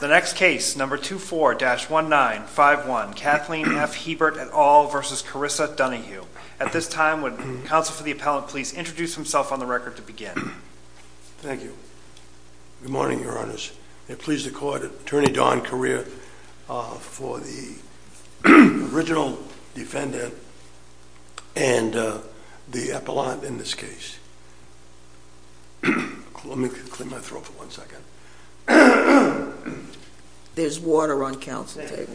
The next case, number 24-1951, Kathleen F. Hebert et al. v. Carissa Donahue. At this time, would counsel for the appellant please introduce himself on the record to begin? Thank you. Good morning, your honors. I'm pleased to call attorney Don Correa for the original defendant and the appellant in this case. Let me clean my throat for one second. There's water on counsel's table.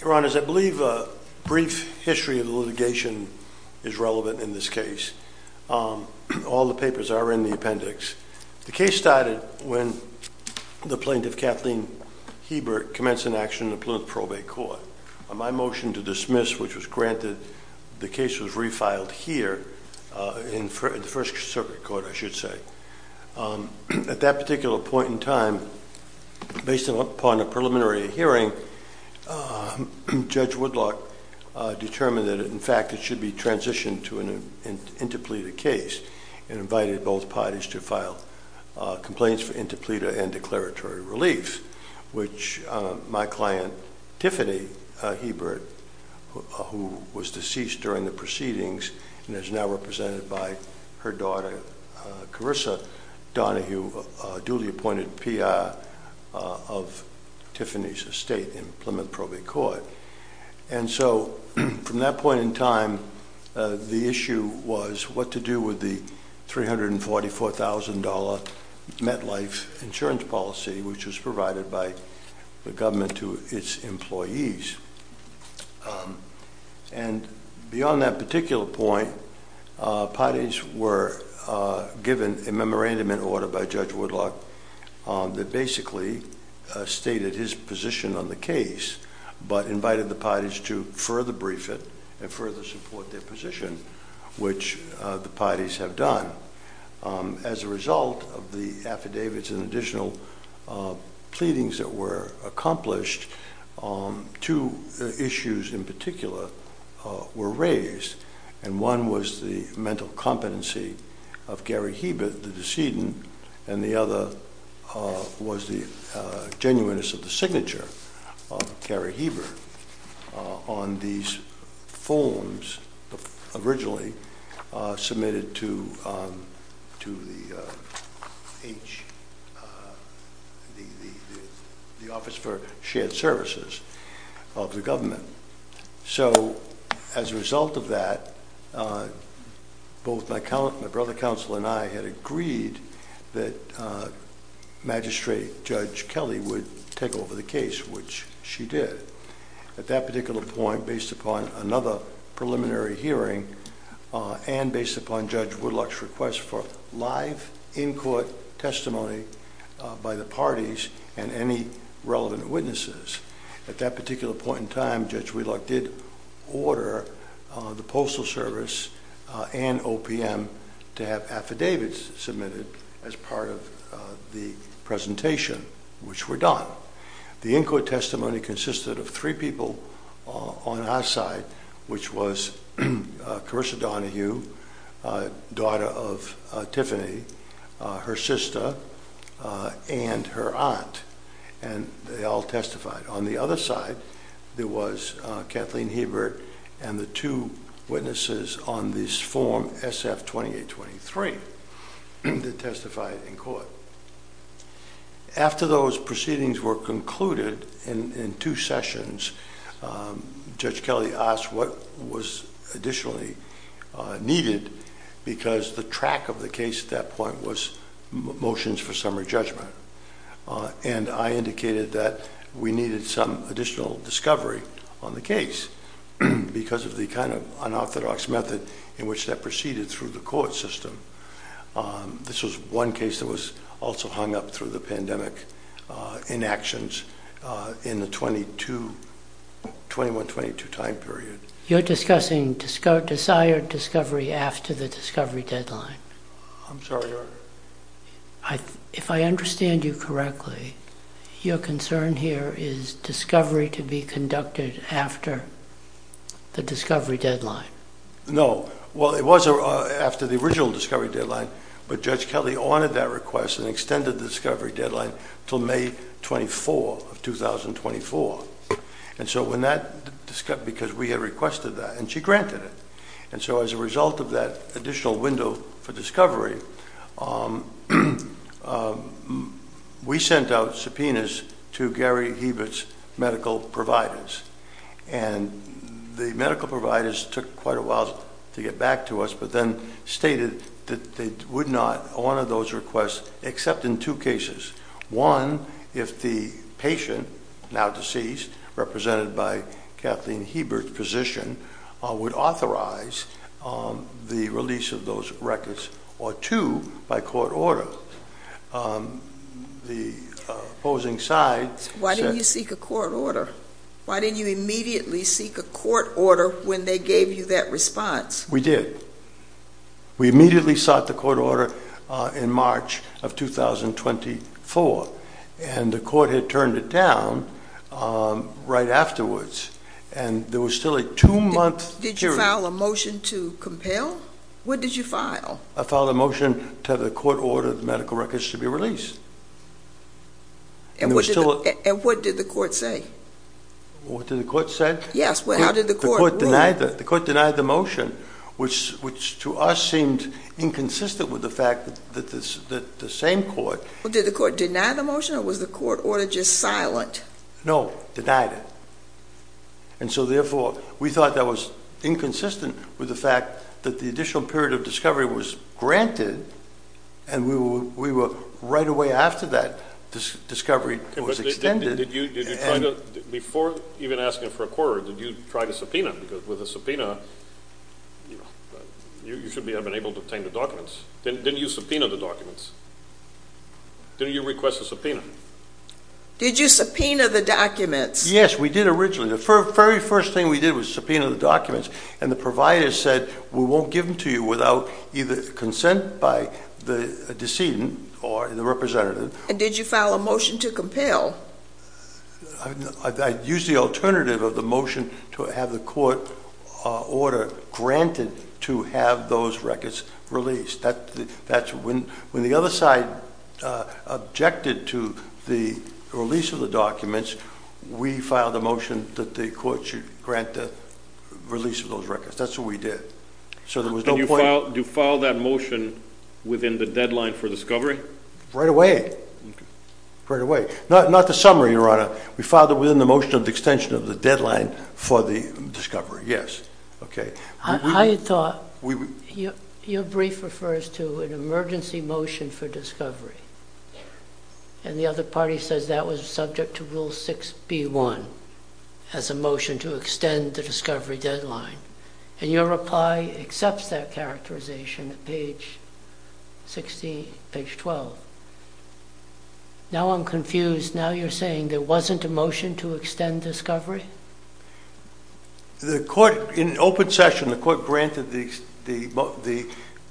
Your honors, I believe a brief history of litigation is relevant in this case. All the papers are in the appendix. The case started when the plaintiff, Kathleen Hebert, commenced an action in the Plaintiff Probate Court. My motion to dismiss, which was granted, the case was refiled here in the First Circuit Court, I should say. At that particular point in time, based upon a preliminary hearing, Judge Woodlock determined that in fact it should be refiled. Complaints for interpleader and declaratory relief, which my client, Tiffany Hebert, who was deceased during the proceedings and is now represented by her daughter, Carissa Donahue, a duly appointed PR of Tiffany's estate in the Plaintiff Probate Court. From that point in time, the issue was what to do with the $344,000 MetLife insurance policy, which was provided by the government to its employees. Beyond that particular point, parties were given a memorandum in order by Judge Woodlock that basically stated his position on the case, but invited the parties to further brief it and further support their position, which the parties have done. As a result of the affidavits and additional pleadings that were accomplished, two issues in particular were raised. One was the mental competency of Gary Hebert, the decedent, and the other was the genuineness of the services of the government. So as a result of that, both my brother counsel and I had agreed that Magistrate Judge Kelly would take over the case, which she did. At that particular point, based upon another preliminary hearing and based upon Judge Woodlock's request for live in-court testimony by the parties and any relevant witnesses, at that particular point in time, Judge Woodlock did order the Postal Service and OPM to have affidavits submitted as part of the presentation, which were done. The in-court testimony consisted of three people on our side, which was Carissa Donahue, daughter of Tiffany, her sister, and her aunt, and they all testified. On the other side, there was Kathleen Hebert and the two witnesses on this form SF-2823 that testified in court. After those proceedings were concluded in two sessions, Judge Kelly asked what was additionally needed because the track of the case at that point was motions for summary judgment, and I indicated that we needed some additional discovery on the case because of the kind of unorthodox method in which that proceeded through the court system. This was one case that was also hung up through the pandemic inactions in the 21-22 time period. You're discussing desired discovery after the discovery deadline. I'm sorry, Your Honor. If I understand you correctly, your concern here is discovery to be conducted after the discovery deadline. No. Well, it was after the original discovery deadline, but Judge Kelly honored that request and extended the discovery deadline until May 24, 2024, because we had requested that, and she granted it. As a result of that additional window for discovery, we sent out subpoenas to Gary Hebert's medical providers, and the medical providers took quite a while to get back to us, but then stated that they would not honor those requests except in two cases. One, if the patient, now deceased, represented by Kathleen Hebert's physician, would authorize the release of those records, or two, by court order. Why didn't you seek a court order? Why didn't you immediately seek a court order when they gave you that response? We did. We immediately sought the court order in March of 2024, and the court had turned it down right afterwards, and there was still a two-month period. Did you file a motion to compel? What did you file? I filed a motion to have the court order the medical records to be released. And what did the court say? What did the court say? Yes, how did the court rule? The court denied the motion, which to us seemed inconsistent with the fact that the same court... Did the court deny the motion, or was the court order just silent? No, denied it. And so therefore, we thought that was inconsistent with the fact that the additional period of discovery was granted, and we were right away after that discovery was extended. Before even asking for a court order, did you try to subpoena? Because with a subpoena, you should have been able to obtain the documents. Didn't you subpoena the documents? Didn't you request a subpoena? Did you subpoena the documents? Yes, we did originally. The very first thing we did was subpoena the documents, and the provider said, we won't give them to you without either consent by the decedent or the representative. And did you file a motion to compel? I used the alternative of the motion to have the court order granted to have those records released. When the other side objected to the release of the documents, we filed a motion that the court should grant the release of those records. That's what we did. Did you file that motion within the deadline for discovery? Right away. Not the summary, Your Honor. We filed it within the motion of extension of the deadline for the discovery, yes. I thought your brief refers to an emergency motion for discovery. And the other party says that was subject to Rule 6B1 as a motion to extend the discovery deadline. And your reply accepts that characterization at page 12. Now I'm confused. Now you're saying there wasn't a motion to extend discovery? In open session, the court granted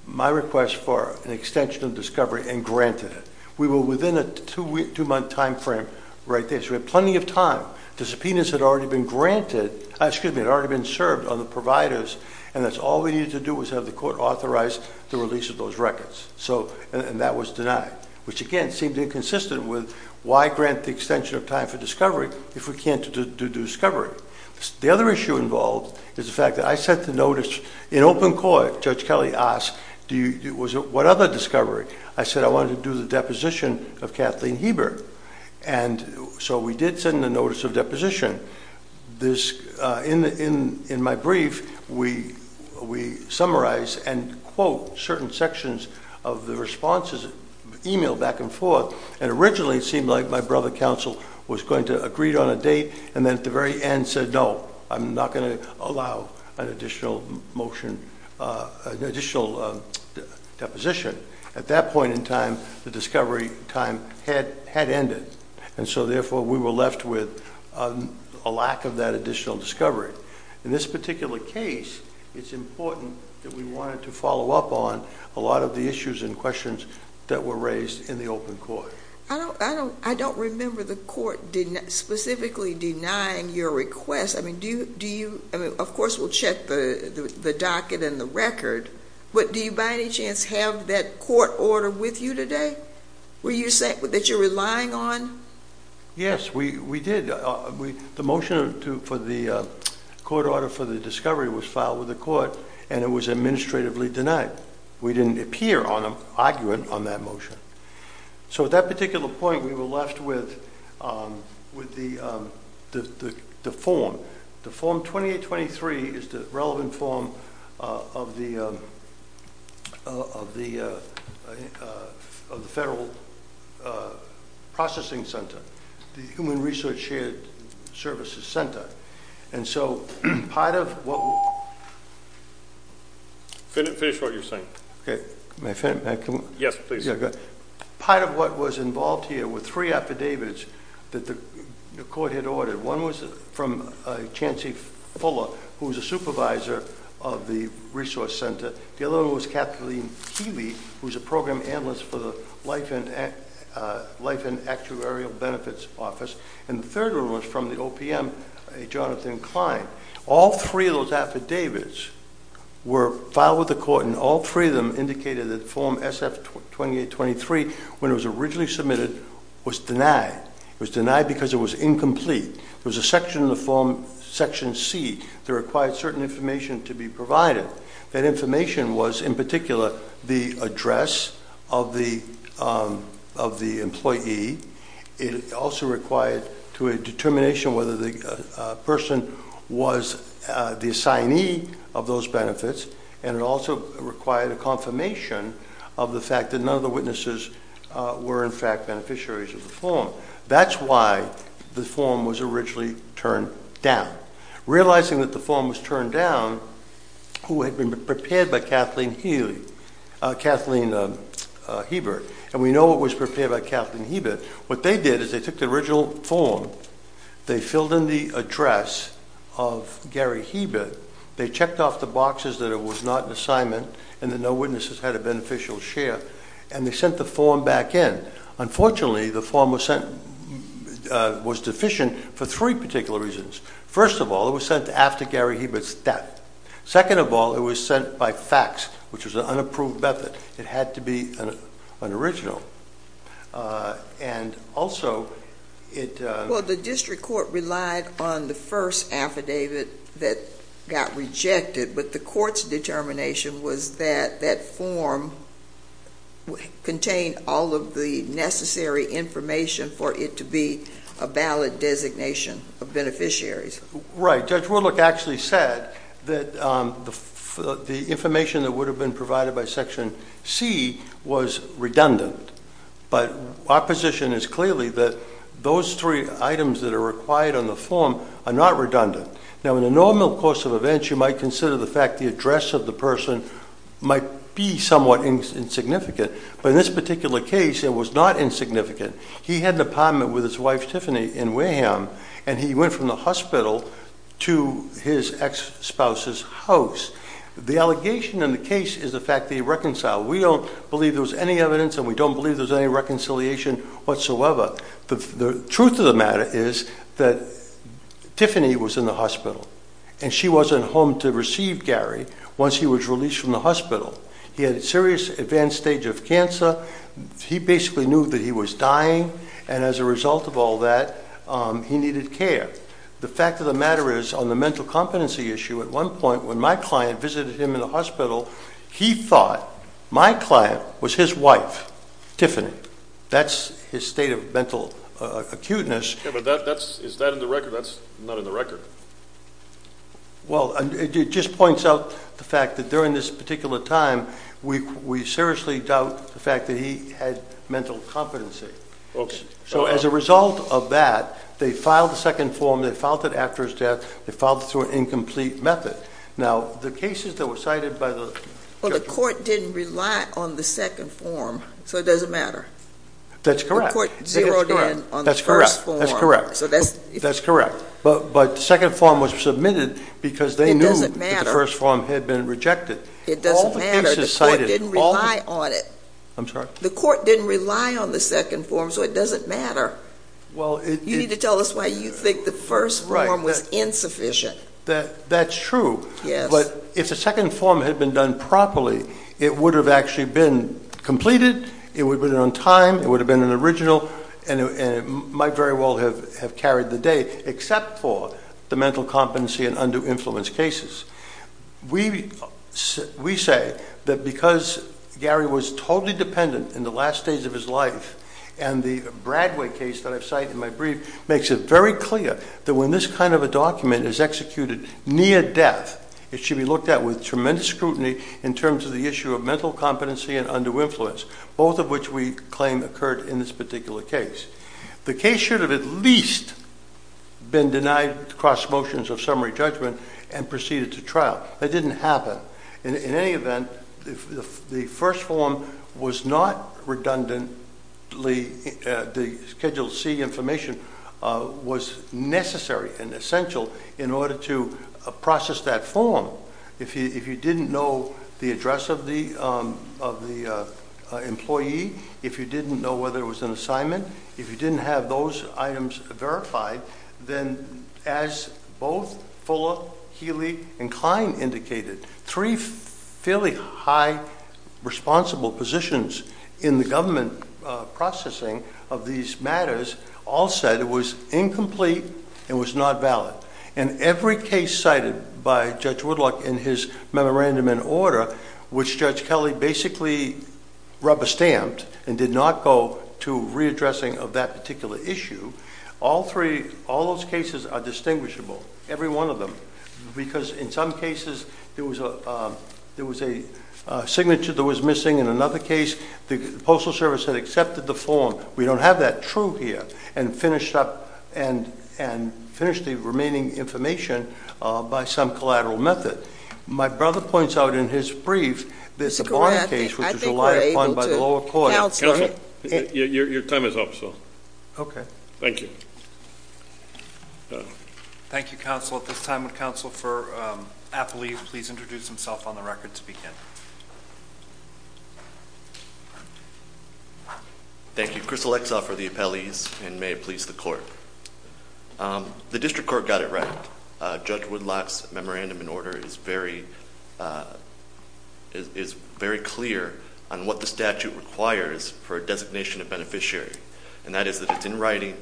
my request for an extension of discovery and granted it. We were within a two-month time frame right there, so we had plenty of time. The subpoenas had already been served on the providers, and that's all we needed to do was have the court authorize the release of those records. And that was denied, which again seemed inconsistent with why grant the extension of time for discovery if we can't do discovery. The other issue involved is the fact that I sent the notice in open court. Judge Kelly asked, what other discovery? I said I wanted to do the deposition of Kathleen Heber. And so we did send the notice of deposition. In my brief, we summarize and quote certain sections of the responses, email back and forth, and originally it seemed like my brother counsel was going to agree on a date and then at the very end said, no, I'm not going to allow an additional motion, additional deposition. At that point in time, the discovery time had ended. And so therefore, we were left with a lack of that additional discovery. In this particular case, it's important that we wanted to follow up on a lot of the issues and questions that were raised in the open court. I don't remember the court specifically denying your request. I mean, do you, of course we'll check the docket and the record, but do you by any chance have that court order with you today? Were you saying that you're relying on? Yes, we did. The motion for the court order for the discovery was filed with the court and it was administratively denied. We didn't appear on them, argument on that motion. So at that particular point, we were left with the form. The form 2823 is the relevant form of the Federal Processing Center, the Human Research Shared Services Center. And so part of what was involved here were three affidavits that the court had ordered. One was from Chancey Fuller, who was a supervisor of the Resource Center. The other one was Kathleen Keeley, who was a program analyst for the Life and Actuarial Benefits Office. And the third one was from the OPM, a Jonathan Klein. All three of those affidavits were filed with the court and all three of them indicated that form SF-2823, when it was originally submitted, was denied. It was denied because it was incomplete. There was a section in the form, section C, that required certain information to be provided. That information was, in particular, the address of the employee. It also required a determination whether the person was the assignee of those benefits. And it also required a confirmation of the fact that none of the witnesses were, in fact, beneficiaries of the form. That's why the form was originally turned down. Realizing that the form was turned down, who had been prepared by Kathleen Hebert, and we know it was prepared by Kathleen Hebert, what they did is they took the original form, they filled in the address of Gary Hebert, they checked off the boxes that it was not an assignment and that no witnesses had a beneficial share, and they sent the form back in. Unfortunately, the form was deficient for three particular reasons. First of all, it was sent after Gary Hebert's death. Second of all, it was sent by fax, which was an unapproved method. It had to be an original. And also it... Well, the district court relied on the first affidavit that got rejected, but the court's determination was that that form contained all of the necessary information for it to be a valid designation of beneficiaries. Right. Judge Warlick actually said that the information that would have been provided by Section C was redundant. But our position is clearly that those three items that are required on the form are not redundant. Now, in the normal course of events, you might consider the fact the address of the person might be somewhat insignificant, but in this particular case, it was not insignificant. He had an apartment with his wife, Tiffany, in Wareham, and he went from the hospital to his ex-spouse's house. The allegation in the case is the fact that he reconciled. We don't believe there was any evidence, and we don't believe there was any reconciliation whatsoever. The truth of the matter is that Tiffany was in the hospital, and she wasn't home to receive Gary once he was released from the hospital. He had a serious advanced stage of cancer. He basically knew that he was dying, and as a result of all that, he needed care. The fact of the matter is, on the mental competency issue, at one point when my client visited him in the hospital, he thought my client was his wife, Tiffany. That's his state of mental acuteness. Yeah, but is that in the record? That's not in the record. Well, it just points out the fact that during this particular time, we seriously doubt the fact that he had mental competency. Okay. So as a result of that, they filed a second form. They filed it after his death. They filed it through an incomplete method. Now, the cases that were cited by the judge... Well, the court didn't rely on the second form, so it doesn't matter. That's correct. The court zeroed in on the first form. That's correct. That's correct. But the second form was submitted because they knew... It doesn't matter. ...that the first form had been rejected. It doesn't matter. All the cases cited... The court didn't rely on it. I'm sorry? The court didn't rely on the second form, so it doesn't matter. Well, it... You need to tell us why you think the first form was insufficient. That's true. Yes. But if the second form had been done properly, it would have actually been completed, it would have been on time, it would have been an original, and it might very well have carried the day, except for the mental competency and undue influence cases. We say that because Gary was totally dependent in the last days of his life, and the Bradway case that I cite in my brief makes it very clear that when this kind of a document is executed near death, it should be looked at with tremendous scrutiny in terms of the issue of mental competency and undue influence, both of which we claim occurred in this particular case. The case should have at least been denied cross motions of summary judgment and proceeded to trial. That didn't happen. In any event, the first form was not redundant. The Schedule C information was necessary and essential in order to process that form. If you didn't know the address of the employee, if you didn't know whether it was an assignment, if you didn't have those items verified, then as both Fuller, Healy, and Klein indicated, three fairly high responsible positions in the government processing of these matters all said it was incomplete and was not valid. And every case cited by Judge Woodlock in his memorandum in order, which Judge Kelly basically rubber-stamped and did not go to readdressing of that particular issue, all those cases are distinguishable, every one of them, because in some cases there was a signature that was missing. In another case, the Postal Service had accepted the form, we don't have that true here, and finished the remaining information by some collateral method. My brother points out in his brief this Bonner case, which was relied upon by the lower court. Counselor, your time is up, sir. Okay. Thank you. Thank you, Counsel. At this time, would Counsel for Affiliate please introduce himself on the record to begin? Thank you. Chris Alexa for the appellees, and may it please the court. The district court got it right. Judge Woodlock's memorandum in order is very clear on what the statute requires for a designation of beneficiary, and that is that it's in writing,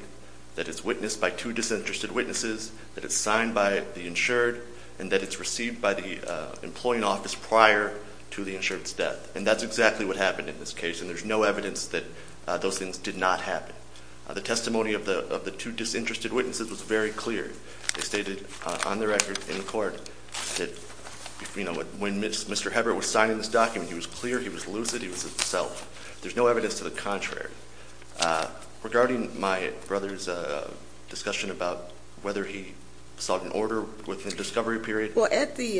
that it's witnessed by two disinterested witnesses, that it's signed by the insured, and that it's received by the employing office prior to the insured's death. And that's exactly what happened in this case, and there's no evidence that those things did not happen. The testimony of the two disinterested witnesses was very clear. They stated on the record in court that when Mr. Hebert was signing this document, he was clear, he was lucid, he was himself. There's no evidence to the contrary. Regarding my brother's discussion about whether he sought an order within the discovery period. Well, at the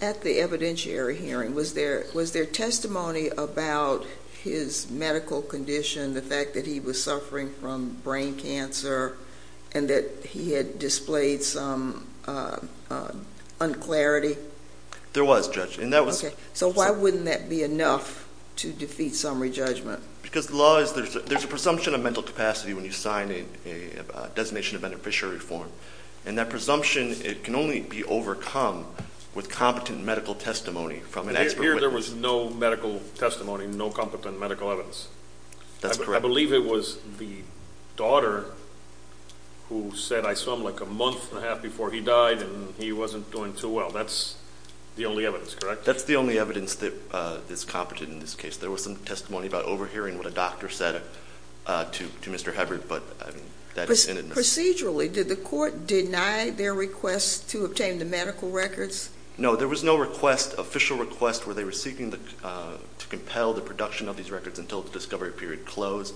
evidentiary hearing, was there testimony about his medical condition, the fact that he was suffering from brain cancer and that he had displayed some unclarity? There was, Judge. Okay. So why wouldn't that be enough to defeat summary judgment? Because the law is, there's a presumption of mental capacity when you sign a designation of beneficiary form, and that presumption can only be overcome with competent medical testimony from an expert witness. Here there was no medical testimony, no competent medical evidence. That's correct. I believe it was the daughter who said, I saw him like a month and a half before he died, and he wasn't doing too well. That's the only evidence, correct? That's the only evidence that is competent in this case. There was some testimony about overhearing what a doctor said to Mr. Hebert, but that isn't enough. Procedurally, did the court deny their request to obtain the medical records? No, there was no request, official request, where they were seeking to compel the production of these records until the discovery period closed.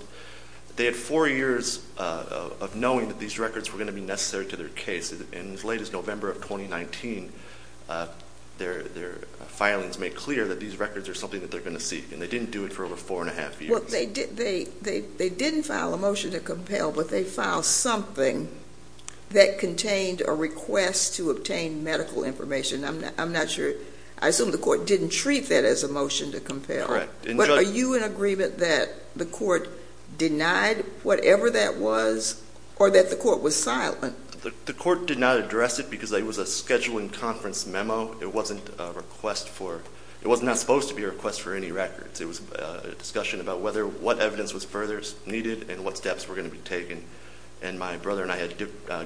They had four years of knowing that these records were going to be necessary to their case. And as late as November of 2019, their filings made clear that these records are something that they're going to seek, and they didn't do it for over four and a half years. Well, they didn't file a motion to compel, but they filed something that contained a request to obtain medical information. I'm not sure. I assume the court didn't treat that as a motion to compel. Correct. But are you in agreement that the court denied whatever that was or that the court was silent? The court did not address it because it was a scheduling conference memo. It wasn't a request for – it was not supposed to be a request for any records. It was a discussion about whether – what evidence was further needed and what steps were going to be taken. And my brother and I had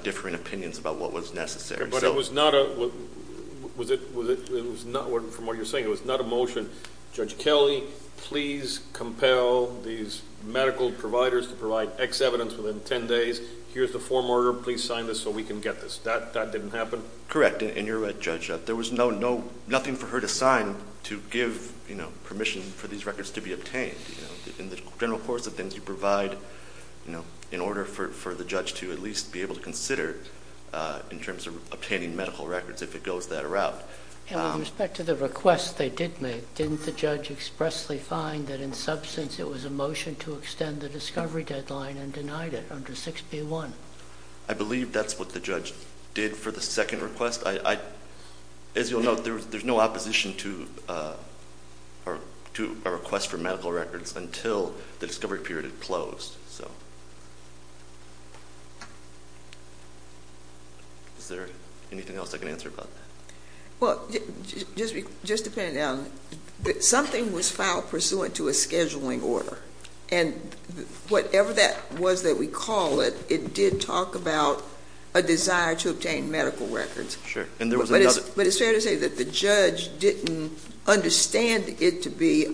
differing opinions about what was necessary. But it was not a – was it – it was not – from what you're saying, it was not a motion, Judge Kelly, please compel these medical providers to provide X evidence within 10 days. Here's the form order. Please sign this so we can get this. That didn't happen? Correct. And you're right, Judge. There was no – nothing for her to sign to give permission for these records to be obtained. In the general course of things, you provide in order for the judge to at least be able to consider in terms of obtaining medical records if it goes that route. And with respect to the request they did make, didn't the judge expressly find that in substance it was a motion to extend the discovery deadline and denied it under 6B1? I believe that's what the judge did for the second request. I – as you'll note, there's no opposition to a request for medical records until the discovery period had closed. So is there anything else I can answer about that? Well, just depending on – something was filed pursuant to a scheduling order. And whatever that was that we call it, it did talk about a desire to obtain medical records. Sure. And there was another – Is it fair to say that the judge didn't understand it to be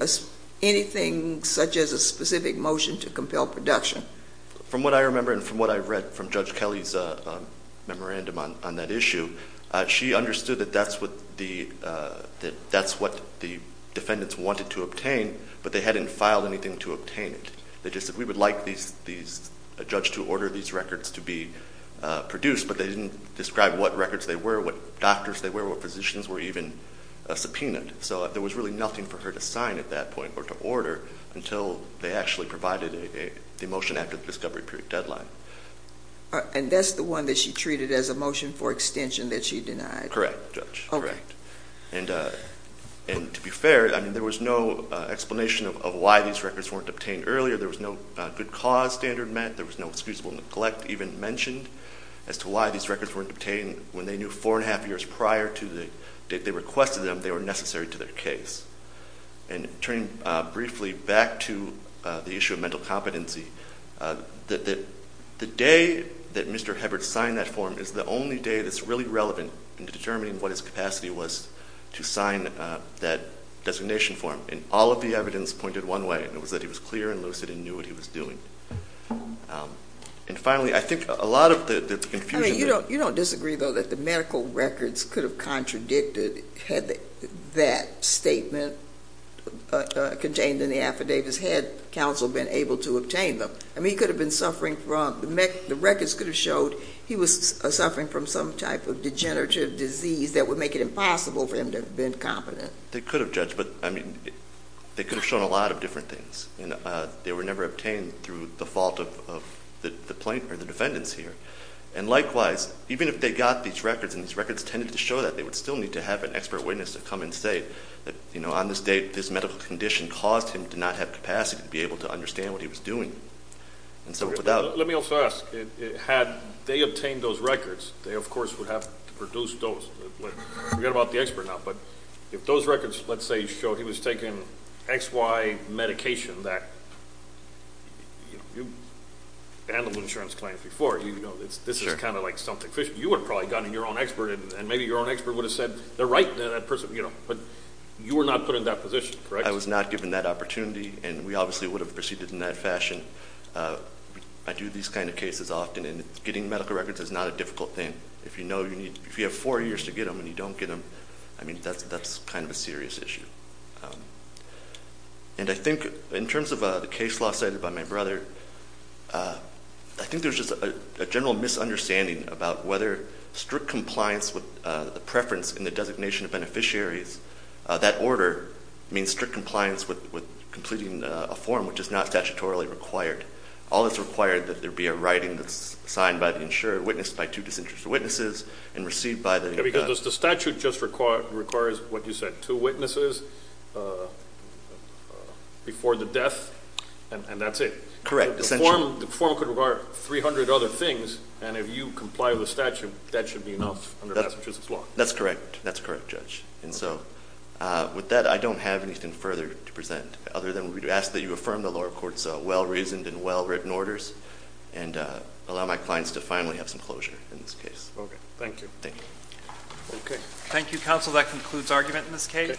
anything such as a specific motion to compel production? From what I remember and from what I've read from Judge Kelly's memorandum on that issue, she understood that that's what the defendants wanted to obtain, but they hadn't filed anything to obtain it. They just said, we would like these – a judge to order these records to be produced, but they didn't describe what records they were, what doctors they were, what physicians were even subpoenaed. So there was really nothing for her to sign at that point or to order until they actually provided the motion after the discovery period deadline. And that's the one that she treated as a motion for extension that she denied? Correct, Judge. Okay. Correct. And to be fair, I mean, there was no explanation of why these records weren't obtained earlier. There was no good cause standard met. There was no excusable neglect even mentioned as to why these records weren't obtained when they knew four and a half years prior to the date they requested them, they were necessary to their case. And turning briefly back to the issue of mental competency, the day that Mr. Hebert signed that form is the only day that's really relevant in determining what his capacity was to sign that designation form. And all of the evidence pointed one way, and it was that he was clear and lucid and knew what he was doing. And finally, I think a lot of the confusion. I mean, you don't disagree, though, that the medical records could have contradicted had that statement contained in the affidavits had counsel been able to obtain them. I mean, he could have been suffering from the records could have showed he was suffering from some type of degenerative disease that would make it impossible for him to have been competent. They could have, Judge, but, I mean, they could have shown a lot of different things. They were never obtained through the fault of the plaintiff or the defendants here. And likewise, even if they got these records and these records tended to show that, they would still need to have an expert witness to come and say that, you know, on this date this medical condition caused him to not have capacity to be able to understand what he was doing. Let me also ask. Had they obtained those records, they, of course, would have to produce those. Forget about the expert now, but if those records, let's say, showed he was taking XY medication that you handled insurance claims before, you know, this is kind of like something, you would have probably gotten your own expert and maybe your own expert would have said they're right, you know, but you were not put in that position, correct? I was not given that opportunity, and we obviously would have proceeded in that fashion. I do these kind of cases often, and getting medical records is not a difficult thing. If you have four years to get them and you don't get them, I mean, that's kind of a serious issue. And I think in terms of the case law cited by my brother, I think there's just a general misunderstanding about whether strict compliance with the preference in the designation of beneficiaries, that order means strict compliance with completing a form which is not statutorily required. All that's required that there be a writing that's signed by the insurer, witnessed by two disinterested witnesses, and received by the— Because the statute just requires what you said, two witnesses before the death, and that's it. Correct. The form could require 300 other things, and if you comply with the statute, that should be enough under Massachusetts law. That's correct. That's correct, Judge. And so with that, I don't have anything further to present, other than we ask that you affirm the lower court's well-reasoned and well-written orders, and allow my clients to finally have some closure in this case. Okay. Thank you. Thank you. Thank you, counsel. That concludes argument in this case.